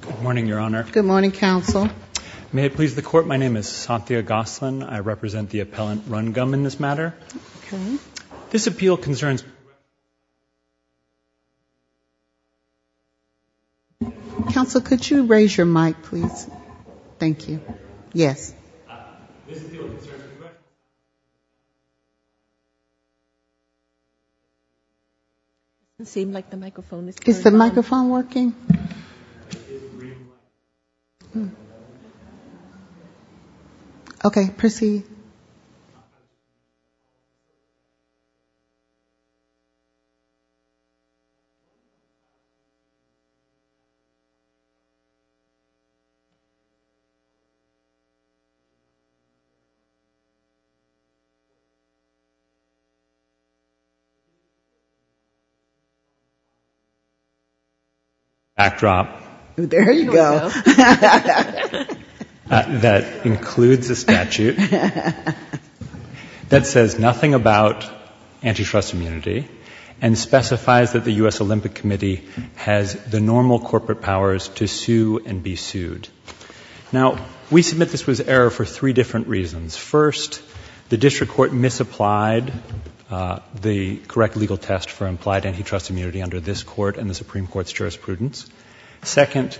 Good morning, Your Honor. Good morning, Counsel. May it please the Court, my name is Santia Gosselin, I represent the appellant Rungum in this matter. Okay. This appeal concerns Counsel, could you raise your mic, please? Thank you. Yes. This appeal concerns the Court, I represent the appellant Rungum in this matter. It doesn't seem like the microphone is turned on. Is the microphone working? It is rewinding. Okay, proceed. Backdrop. There you go. That includes the statute. That says nothing about antitrust immunity and specifies that the U.S. Olympic Committee has the normal corporate powers to sue and be sued. Now, we submit this was error for three different reasons. First, the District Court misapplied the correct legal test for implied antitrust immunity under this Court and the Supreme Court's jurisprudence. Second,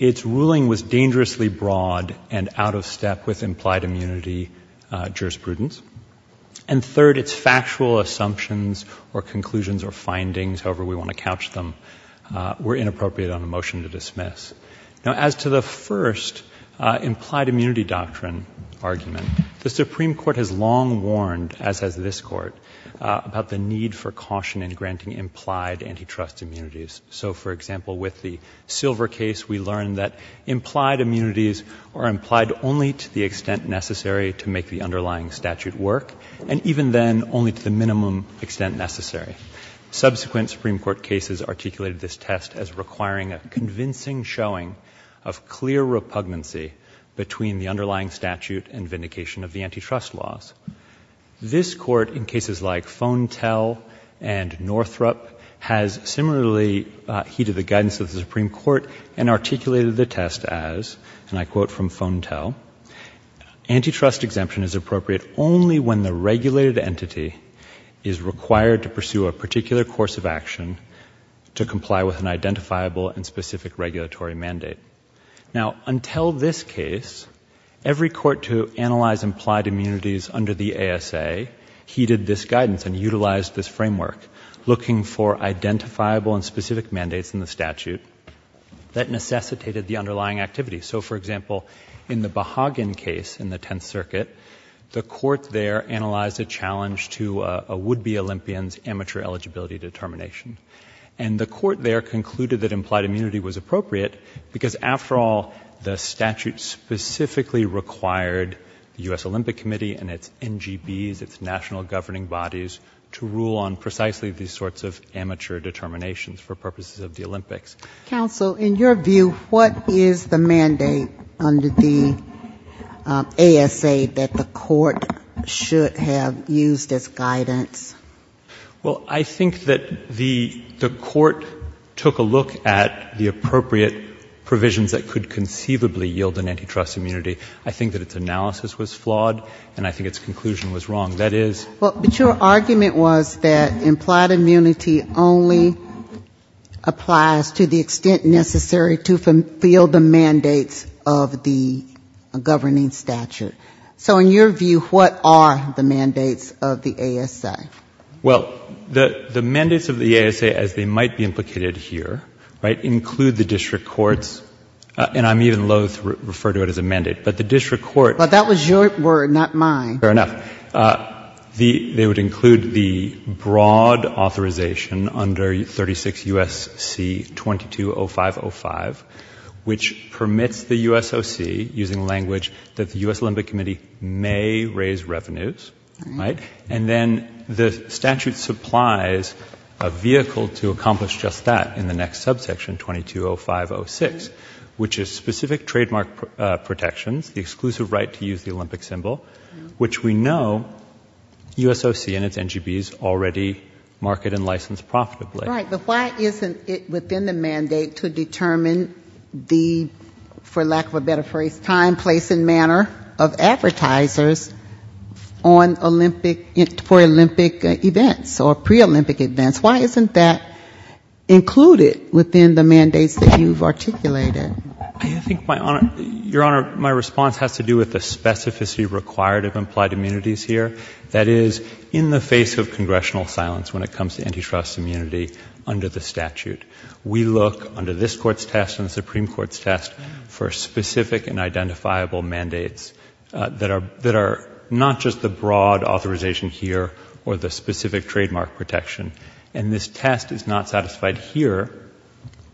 its ruling was dangerously broad and out of step with implied immunity jurisprudence. And third, its factual assumptions or conclusions or findings, however we want to couch them, were inappropriate on a motion to dismiss. Now, as to the first implied immunity doctrine argument, the Supreme Court has long warned, as has this Court, about the need for caution in granting implied antitrust immunities. So, for example, with the Silver case, we learned that implied immunities are implied only to the extent necessary to make the underlying statute work and even then only to the minimum extent necessary. Subsequent Supreme Court cases articulated this test as requiring a convincing showing of clear repugnancy between the underlying statute and vindication of the antitrust laws. This Court, in cases like Fontel and Northrup, has similarly heeded the guidance of the Supreme Court and articulated the test as, and I quote from Fontel, antitrust exemption is appropriate only when the regulated entity is required to pursue a particular course of action to comply with an identifiable and specific regulatory mandate. Now, until this case, every court to analyze implied immunities under the ASA heeded this guidance and utilized this framework, looking for identifiable and specific mandates in the statute that necessitated the underlying activity. So, for example, in the Behagen case in the Tenth Circuit, the Court there analyzed a challenge to a would-be Olympian's amateur eligibility determination. And the Court there concluded that implied immunity was appropriate because, after all, the statute specifically required the U.S. Olympic Committee and its NGBs, its national governing bodies, to rule on precisely these sorts of amateur determinations for purposes of the Olympics. Counsel, in your view, what is the mandate under the ASA that the Court should have used as guidance? Well, I think that the Court took a look at the appropriate provisions that could conceivably yield an antitrust immunity. I think that its analysis was flawed, and I think its conclusion was wrong. That is... But your argument was that implied immunity only applies to the extent necessary to fulfill the mandates of the governing statute. So, in your view, what are the mandates of the ASA? Well, the mandates of the ASA, as they might be implicated here, right, include the district courts, and I'm even loathe to refer to it as a mandate. But the district court... But that was your word, not mine. Fair enough. They would include the broad authorization under 36 U.S.C. 220505, which permits the USOC, using language that the U.S. Olympic Committee may raise revenues, right? And then the statute supplies a vehicle to accomplish just that in the next subsection, 220506, which is specific trademark protections, the exclusive right to use the Olympic symbol, which we know USOC and its NGBs already market and license profitably. Right. But why isn't it within the mandate to determine the, for lack of a better phrase, time, place, and manner of advertisers for Olympic events or pre-Olympic events? Why isn't that included within the mandates that you've articulated? I think, Your Honor, my response has to do with the specificity required of implied immunities here. That is, in the face of congressional silence when it comes to antitrust immunity under the statute, we look under this Court's test and the Supreme Court's test for specific and identifiable mandates that are not just the broad authorization here or the specific trademark protection. And this test is not satisfied here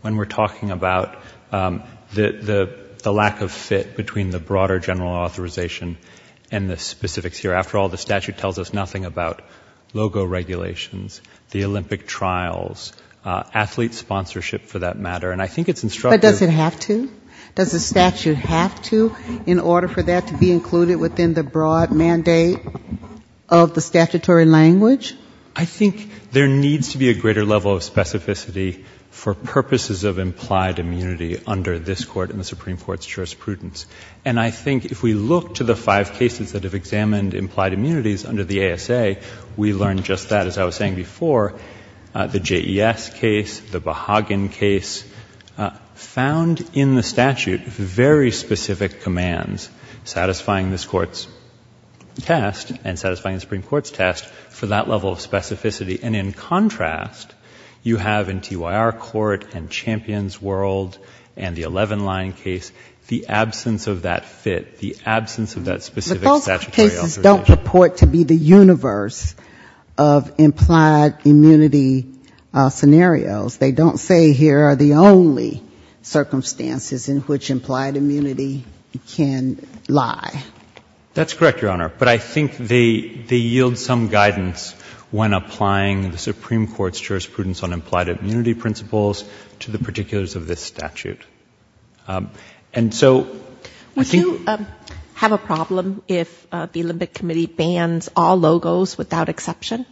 when we're talking about the lack of fit between the broader general authorization and the specifics here. After all, the statute tells us nothing about logo regulations, the Olympic trials, athlete sponsorship for that matter. And I think it's instructive. But does it have to? Does the statute have to in order for that to be included within the broad mandate of the statutory language? I think there needs to be a greater level of specificity for purposes of implied immunity under this Court and the Supreme Court's jurisprudence. And I think if we look to the five cases that have examined implied immunities under the ASA, we learn just that, as I was saying before, the JES case, the Behagen case, found in the statute very specific commands satisfying this Court's test and satisfying the Supreme Court's test for that level of specificity. And in contrast, you have in TYR Court and Champions World and the 11-line case, the absence of that fit, the absence of that specific statutory authorization. But those cases don't purport to be the universe of implied immunity scenarios. They don't say here are the only circumstances in which implied immunity can lie. That's correct, Your Honor. But I think they yield some guidance when applying the Supreme Court's jurisprudence on implied immunity principles to the particulars of this statute. And so I think — Would you have a problem if the Olympic Committee bans all logos without exception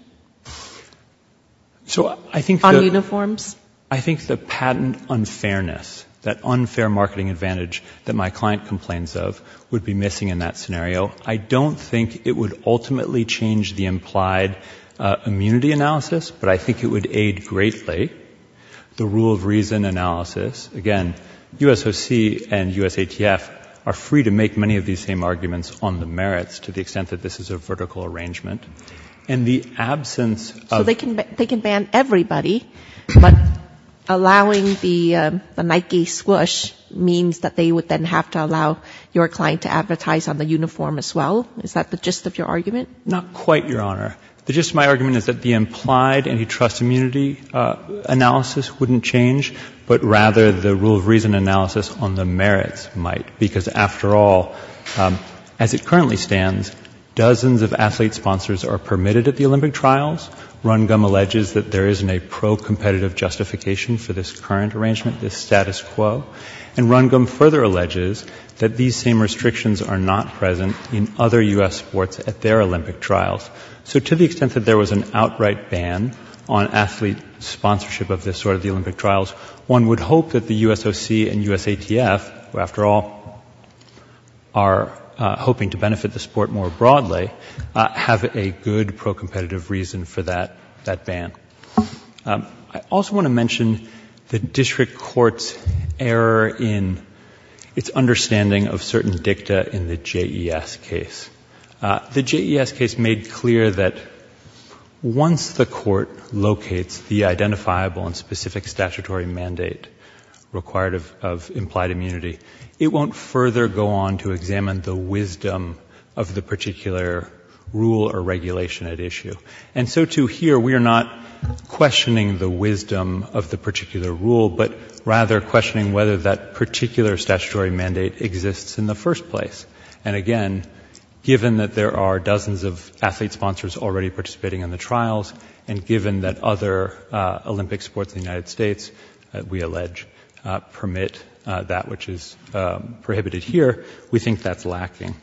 on uniforms? I think the patent unfairness, that unfair marketing advantage that my client complains of, would be missing in that scenario. I don't think it would ultimately change the implied immunity analysis, but I think it would aid greatly the rule of reason analysis. Again, USOC and USATF are free to make many of these same arguments on the merits to the extent that this is a vertical arrangement. And the absence of — So they can ban everybody, but allowing the Nike Squoosh means that they would then have to allow your client to advertise on the uniform as well? Is that the gist of your argument? Not quite, Your Honor. The gist of my argument is that the implied antitrust immunity analysis wouldn't change, but rather the rule of reason analysis on the merits might. Because after all, as it currently stands, dozens of athlete sponsors are permitted at the Olympic trials. Rundgum alleges that there isn't a pro-competitive justification for this current arrangement, this status quo. And Rundgum further alleges that these same restrictions are not present in other U.S. sports at their Olympic trials. So to the extent that there was an outright ban on athlete sponsorship of this sort at the Olympic trials, one would hope that the USOC and USATF, who after all are hoping to benefit the sport more broadly, have a good pro-competitive reason for that ban. I also want to mention the district court's error in its understanding of certain dicta in the JES case. The JES case made clear that once the court locates the identifiable and specific statutory mandate required of implied immunity, it won't further go on to examine the wisdom of the particular rule or regulation at issue. And so, too, here we are not questioning the wisdom of the particular rule, but rather questioning whether that particular statutory mandate exists in the first place. And again, given that there are dozens of athlete sponsors already participating in the trials, and given that other Olympic sports in the United States, we allege, permit that which is prohibited here, we think that's lacking.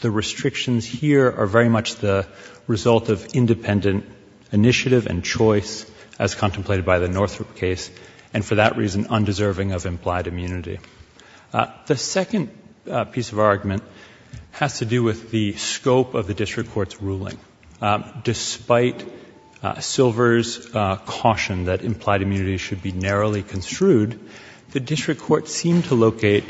The restrictions here are very much the result of independent initiative and choice, as contemplated by the Northrop case, and for that reason, undeserving of implied immunity. The second piece of our argument has to do with the scope of the district court's ruling. Despite Silver's caution that implied immunity should be narrowly construed, the district court seemed to locate,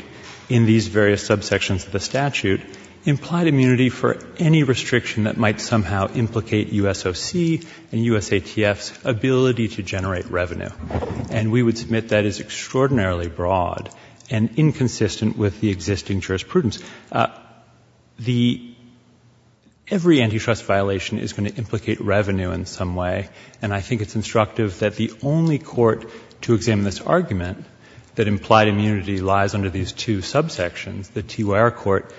in these various subsections of the statute, implied immunity for any restriction that might somehow implicate USOC and USATF's ability to generate revenue. And we would submit that is extraordinarily broad and inconsistent with the existing jurisprudence. Every antitrust violation is going to implicate revenue in some way, and I think it's instructive that the only court to examine this argument that implied immunity lies under these two subsections, the TYR court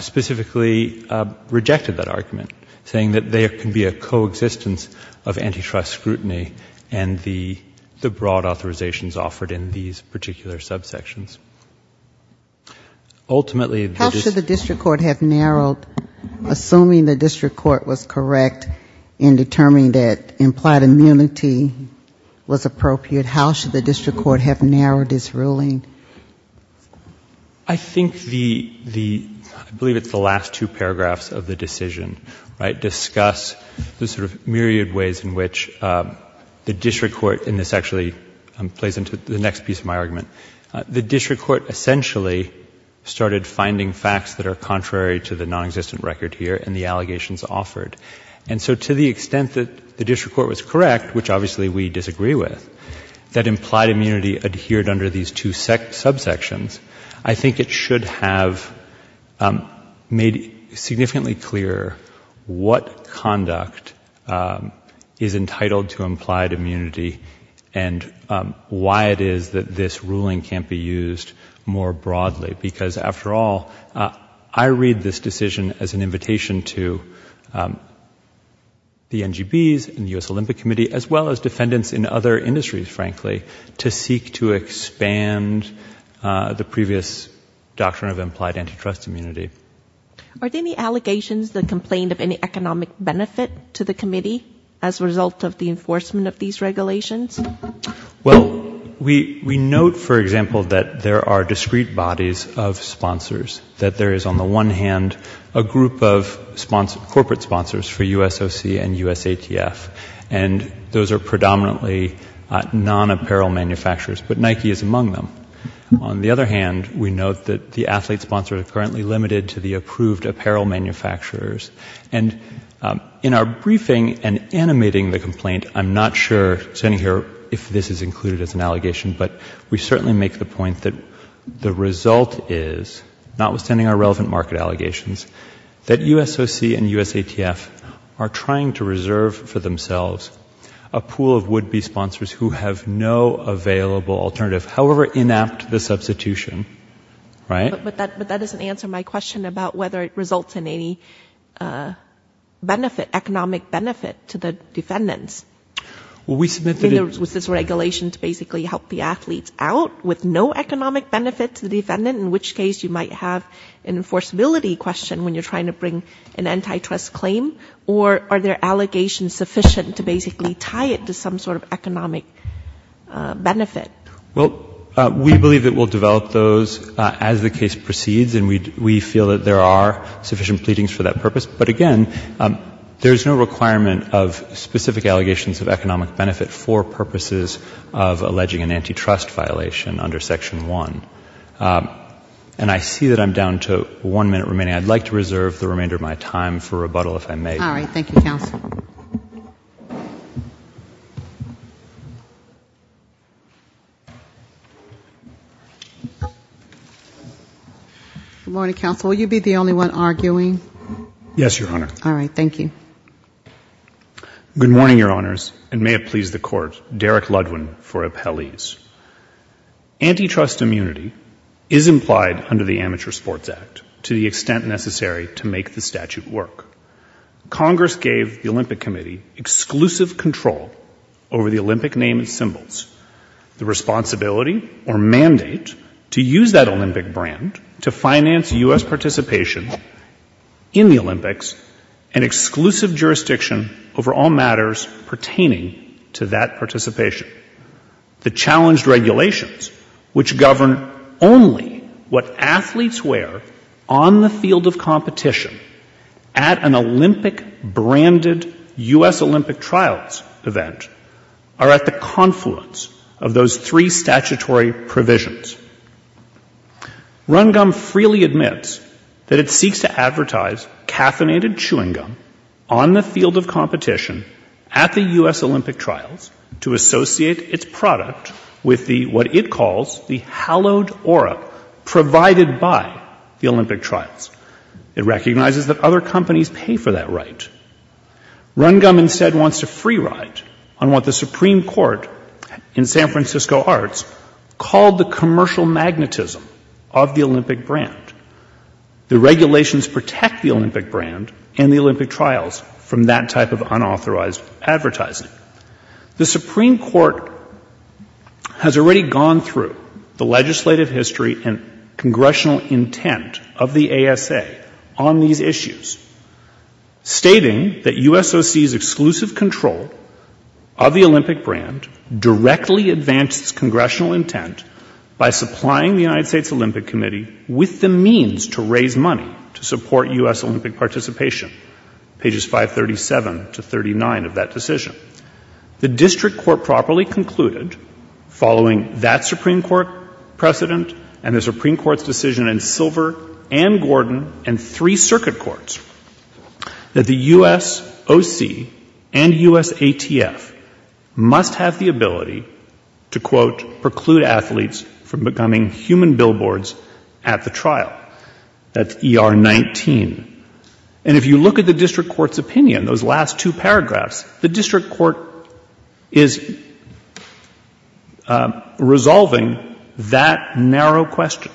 specifically rejected that argument, saying that there can be a coexistence of antitrust scrutiny and the broad authorizations offered in these particular subsections. Ultimately, the district court... If implied immunity was appropriate, how should the district court have narrowed its ruling? I think the, I believe it's the last two paragraphs of the decision, right, discuss the sort of myriad ways in which the district court, and this actually plays into the next piece of my argument, the district court essentially started finding facts that are contrary to the nonexistent record here and the allegations offered. And so to the extent that the district court was correct, which obviously we disagree with, that implied immunity adhered under these two subsections, I think it should have made significantly clearer what conduct is entitled to implied immunity and why it is that this ruling can't be used more broadly. Because after all, I read this decision as an invitation to the NGBs and the U.S. Olympic Committee, as well as defendants in other industries, frankly, to seek to expand the previous doctrine of implied antitrust immunity. Are there any allegations that complain of any economic benefit to the committee as a result of the enforcement of these regulations? Well, we note, for example, that there are discrete bodies of sponsors, that there is on the one hand a group of corporate sponsors for USOC and USATF, and those are predominantly non-apparel manufacturers, but Nike is among them. On the other hand, we note that the athlete sponsors are currently limited to the approved apparel manufacturers. And in our briefing and animating the complaint, I'm not sure standing here if this is included as an allegation, but we certainly make the point that the result is, notwithstanding our relevant market allegations, that USOC and USATF are trying to reserve for themselves a pool of would-be sponsors who have no available alternative, however inapt the substitution, right? But that doesn't answer my question about whether it results in any benefit, economic benefit, to the defendants. Well, we submit that it was this regulation to basically help the athletes out with no economic benefit to the defendant, in which case you might have an enforceability question when you're trying to bring an antitrust claim, or are there allegations sufficient to basically tie it to some sort of economic benefit? Well, we believe it will develop those as the case proceeds, and we feel that there are sufficient pleadings for that purpose. But again, there's no requirement of specific allegations of economic benefit for purposes of alleging an antitrust violation under Section 1. And I see that I'm down to one minute remaining. I'd like to reserve the remainder of my time for rebuttal, if I may. All right. Thank you, counsel. Good morning, counsel. Will you be the only one arguing? Yes, Your Honor. All right. Thank you. Good morning, Your Honors, and may it please the Court, Derek Ludwin for appellees. Antitrust immunity is implied under the Amateur Sports Act to the extent necessary to make the statute work. Congress gave the Olympic Committee exclusive control over the Olympic name and symbols. The responsibility or mandate to use that Olympic brand to finance U.S. participation in the Olympics is an exclusive jurisdiction over all matters pertaining to that participation. The challenged regulations, which govern only what athletes wear on the field of competition at an Olympic-branded U.S. Olympic trials event, are at the confluence of those three statutory provisions. RunGum freely admits that it seeks to advertise caffeinated chewing gum on the field of competition at the U.S. Olympic trials to associate its product with what it calls the hallowed aura provided by the Olympic trials. It recognizes that other companies pay for that right. RunGum instead wants to free ride on what the Supreme Court in San Francisco Arts called the commercial magnetism of the Olympic brand. The regulations protect the Olympic brand and the Olympic trials from that type of unauthorized advertising. The Supreme Court has already gone through the legislative history and congressional intent of the ASA on these issues, stating that USOC's exclusive control of the Olympic brand directly advances congressional intent by supplying the United States Olympic Committee with the means to raise money to support U.S. Olympic participation, pages 537 to 39 of that decision. The district court properly concluded, following that Supreme Court precedent and the Supreme Court's decision in Silver and Gordon and three circuit courts, that the USOC and USATF must have the ability to, quote, preclude athletes from becoming human billboards at the trial. That's ER19. And if you look at the district court's opinion, those last two paragraphs, the district court is resolving that narrow question.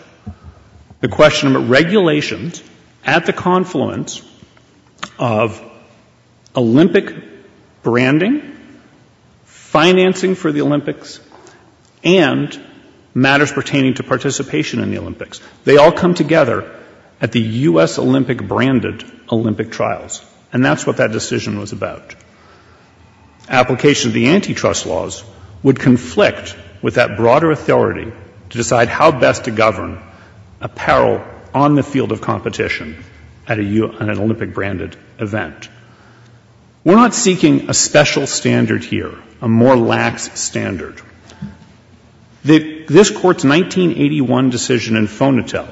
The question about regulations at the confluence of Olympic branding, financing for the Olympics, and matters pertaining to participation in the Olympics. They all come together at the U.S. Olympic branded Olympic trials. And that's what that decision was about. Application of the antitrust laws would conflict with that broader authority to decide how best to govern apparel on the field of competition at an Olympic branded event. We're not seeking a special standard here, a more lax standard. This Court's 1981 decision in Fonatel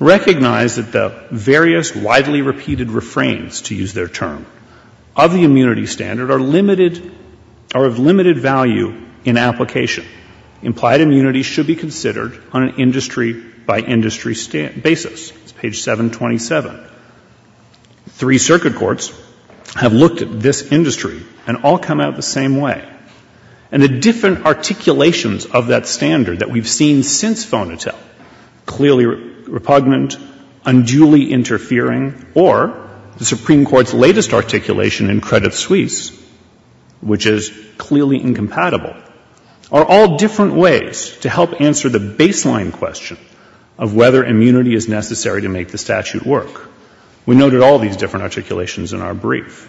recognized that the various widely repeated refrains, to use their term, of the immunity standard are limited, are of limited value in application. Implied immunity should be considered on an industry-by-industry basis. It's page 727. Three circuit courts have looked at this industry and all come out the same way. And the different articulations of that standard that we've seen since Fonatel, clearly repugnant, unduly interfering, or the Supreme Court's latest articulation in Credit Suisse, which is clearly incompatible, are all different ways to help answer the baseline question of whether immunity is necessary to make the statute work. We noted all these different articulations in our brief.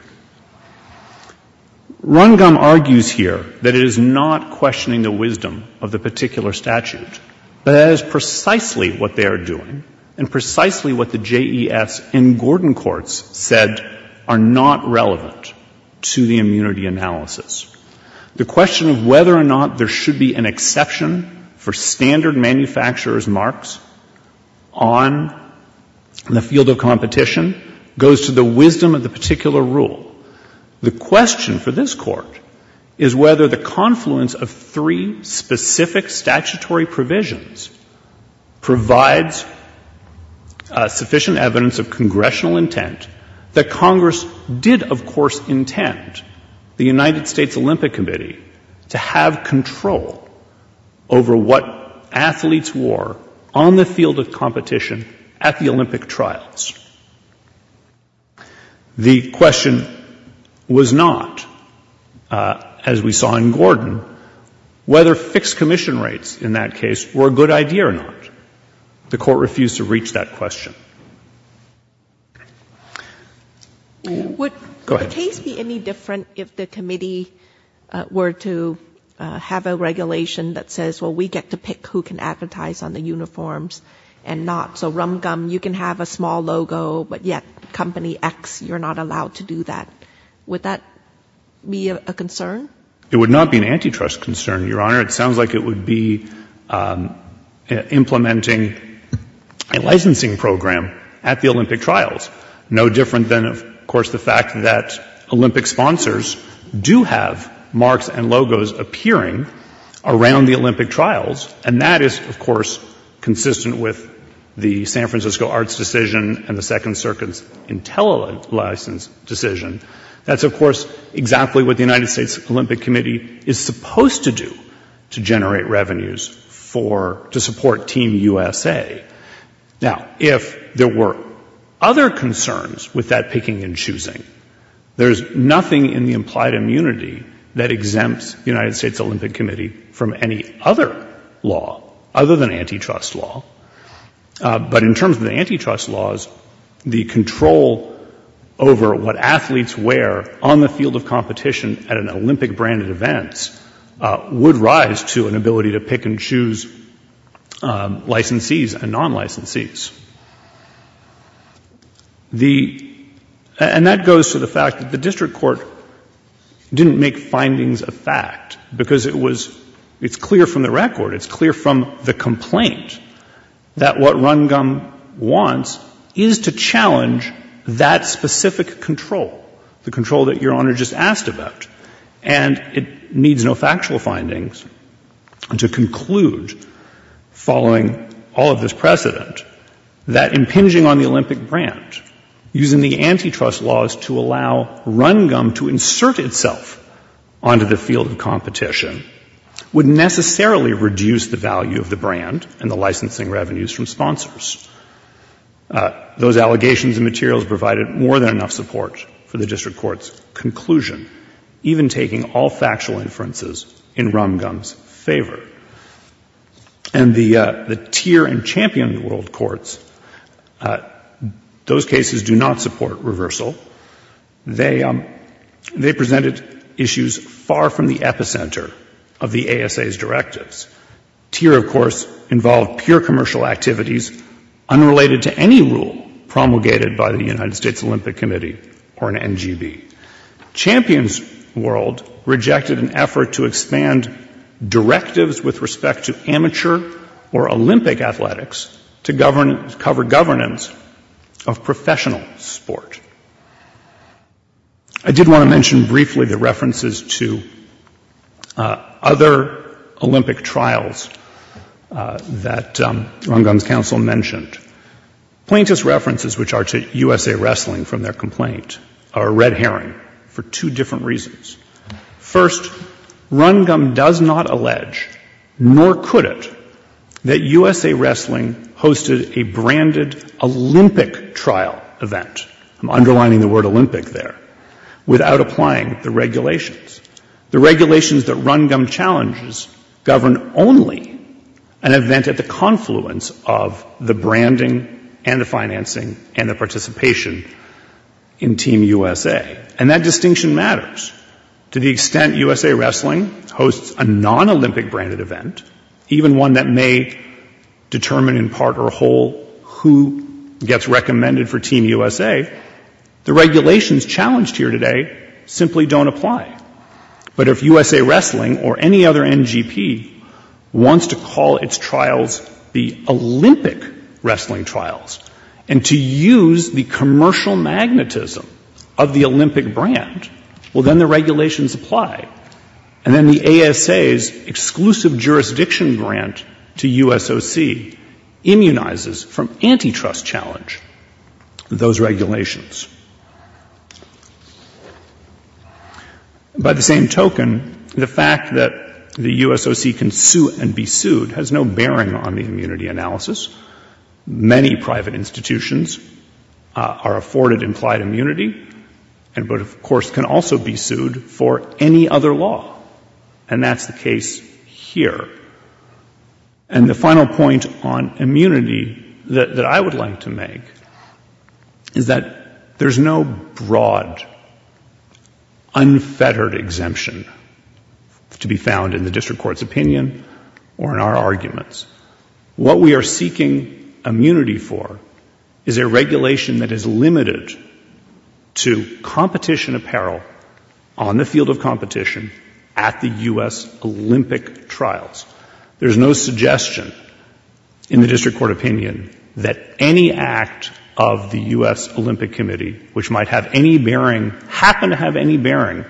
Rundgum argues here that it is not questioning the wisdom of the particular statute, but that is precisely what they are doing and precisely what the JES and Gordon courts said are not relevant to the immunity analysis. The question of whether or not there should be an exception for standard manufacturer's marks on the field of competition goes to the wisdom of the particular rule. The question of whether there should be an exception for standard manufacturer's marks on the field of competition goes to the wisdom of the particular rule. The question for this Court is whether the confluence of three specific statutory provisions provides sufficient evidence of congressional intent that Congress did, of course, intend the United States Olympic Committee to have control over what athletes wore on the field of competition at the Olympic trials. The question of whether there should be an exception was not, as we saw in Gordon, whether fixed commission rates in that case were a good idea or not. The Court refused to reach that question. Go ahead. Would the case be any different if the committee were to have a regulation that says, well, we get to pick who can advertise on the uniforms and not? So, Rundgum, you can have a small logo, but, yet, Company X, you're not allowed to do that. Would that be a concern? It would not be an antitrust concern, Your Honor. It sounds like it would be implementing a licensing program at the Olympic trials, no different than, of course, the fact that Olympic sponsors do have marks and logos appearing around the Olympic trials, and that is, of course, consistent with the San Francisco Arts decision and the Second Circuit's IntelliLicense decision. That's, of course, exactly what the United States Olympic Committee is supposed to do to generate revenues for, to support Team USA. Now, if there were other concerns with that picking and choosing, there is nothing in the implied immunity that exempts the United States Olympic Committee from any other law other than antitrust law. But in terms of the antitrust law, there is nothing in the implied immunity that exempts the United States Olympic Committee from any other law other than antitrust law. The control over what athletes wear on the field of competition at an Olympic-branded event would rise to an ability to pick and choose licensees and non-licensees. And that goes to the fact that the district court didn't make findings of fact, because it's clear from the record, it's clear from the complaint, that what Rungum wants is a challenge to that specific control, the control that Your Honor just asked about. And it needs no factual findings to conclude, following all of this precedent, that impinging on the Olympic brand, using the antitrust laws to allow Rungum to insert itself onto the field of competition, would necessarily reduce the value of the brand and the licensing revenues from sponsors. Those allegations and materials provided more than enough support for the district court's conclusion, even taking all factual inferences in Rungum's favor. And the TIR and Champion of the World courts, those cases do not support reversal. They presented issues far from the epicenter of the ASA's directives. TIR, of course, involved pure commercial activities, unrelated to any rules at the time, and they presented, promulgated by the United States Olympic Committee or an NGB. Champions World rejected an effort to expand directives with respect to amateur or Olympic athletics to cover governance of professional sport. I did want to mention briefly the references to other Olympic trials that Rungum's counsel mentioned. These references, which are to USA Wrestling from their complaint, are red herring for two different reasons. First, Rungum does not allege, nor could it, that USA Wrestling hosted a branded Olympic trial event. I'm underlining the word Olympic there, without applying the regulations. The regulations that Rungum challenges govern only an event at the confluence of the branding and the financing and the participation in Team USA. And that distinction matters. To the extent USA Wrestling hosts a non-Olympic branded event, even one that may determine in part or whole who gets recommended for Team USA, the regulations challenged here today simply don't apply. But if USA Wrestling or any other NGP wants to call its trials the Olympic wrestling trials and to use the commercial magnetism of the Olympic brand, well, then the regulations apply. And then the ASA's exclusive jurisdiction grant to USOC immunizes from antitrust challenge those regulations. By the same token, the fact that the USOC can sue and be sued has no bearing on the immunity analysis. Many private institutions are afforded implied immunity, but of course can also be sued for any other law. And that's the case here. And the final point on immunity that I would like to make is that there's no broad, unfettered exemption to be found in the district court's opinion or in our arguments. What we are seeking immunity for is a regulation that is limited to competition apparel on the field of competition at the U.S. Olympic trials. There's no suggestion in the district court opinion that any act of the U.S. Olympic Committee, which might have any bearing, happen to have any bearing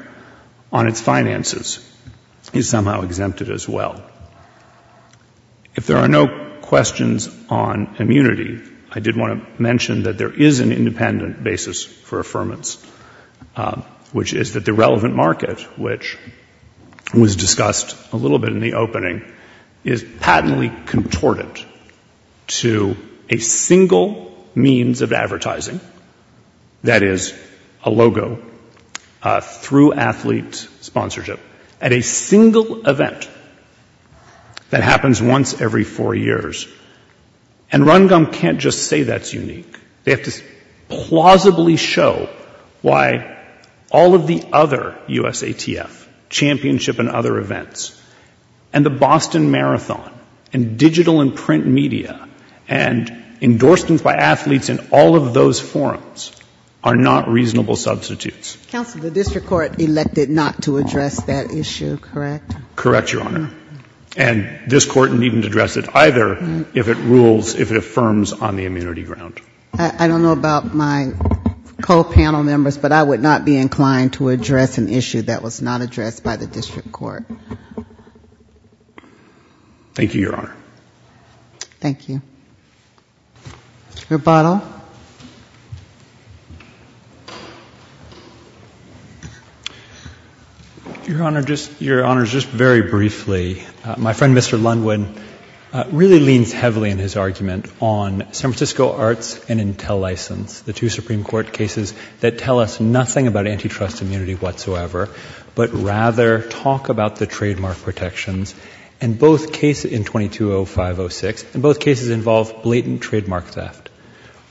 on its finances, is somehow exempted as well. If there are no questions on immunity, I did want to mention that there is an independent basis for affirmance, which is that the relevant market, which was discussed a little bit in the opening, is patently contorted to a single means of advertising, that is, a logo, through athlete sponsorship, at a single event that happens once every four years. And RunGum can't just say that's unique. They have to plausibly show why all of the other USATF, championship and other events, and the Boston Marathon, and digital and print media, and endorsements by athletes in all of those forums, are not reasonable substitutes. Counsel, the district court elected not to address that issue, correct? Correct, Your Honor. And this Court needn't address it either if it rules, if it affirms on the immunity ground. I don't know about my co-panel members, but I would not be inclined to address an issue that was not addressed by the district court. Thank you, Your Honor. Thank you. Your Honor, just very briefly, my friend, Mr. Lundwin, really leans heavily in his argument on San Francisco Arts and Intel license, the two Supreme Court cases that tell us nothing about antitrust immunity whatsoever, but rather talk about the trademark protections. And both cases in 220506, and both cases involve blatant trademark theft.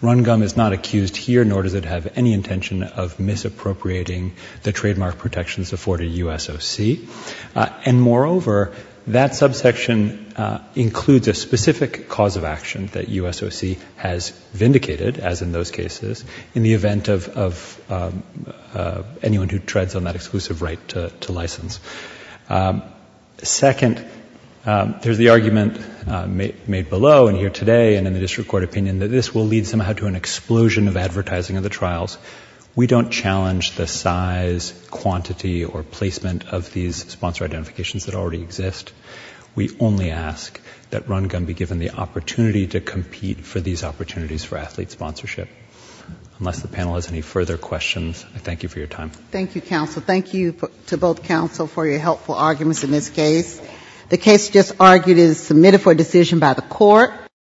RunGum is not accused here, nor does it have any intention of misappropriating the trademark protections afforded USOC. And moreover, that subsection includes a specific cause of action that USOC has vindicated, as in those cases, in the event of anyone who treads on that exclusive right to license. Second, there's the argument made below and here today and in the district court opinion that this will lead somehow to an explosion of advertising of the trials. We don't challenge the size, quantity, or placement of these sponsor identifications that already exist. We only ask that RunGum be given the opportunity to compete for these opportunities for athlete sponsorship. Unless the panel has any further questions, I thank you for your time. Thank you, counsel. Thank you to both counsel for your helpful arguments in this case. The case just argued is submitted for decision by the court.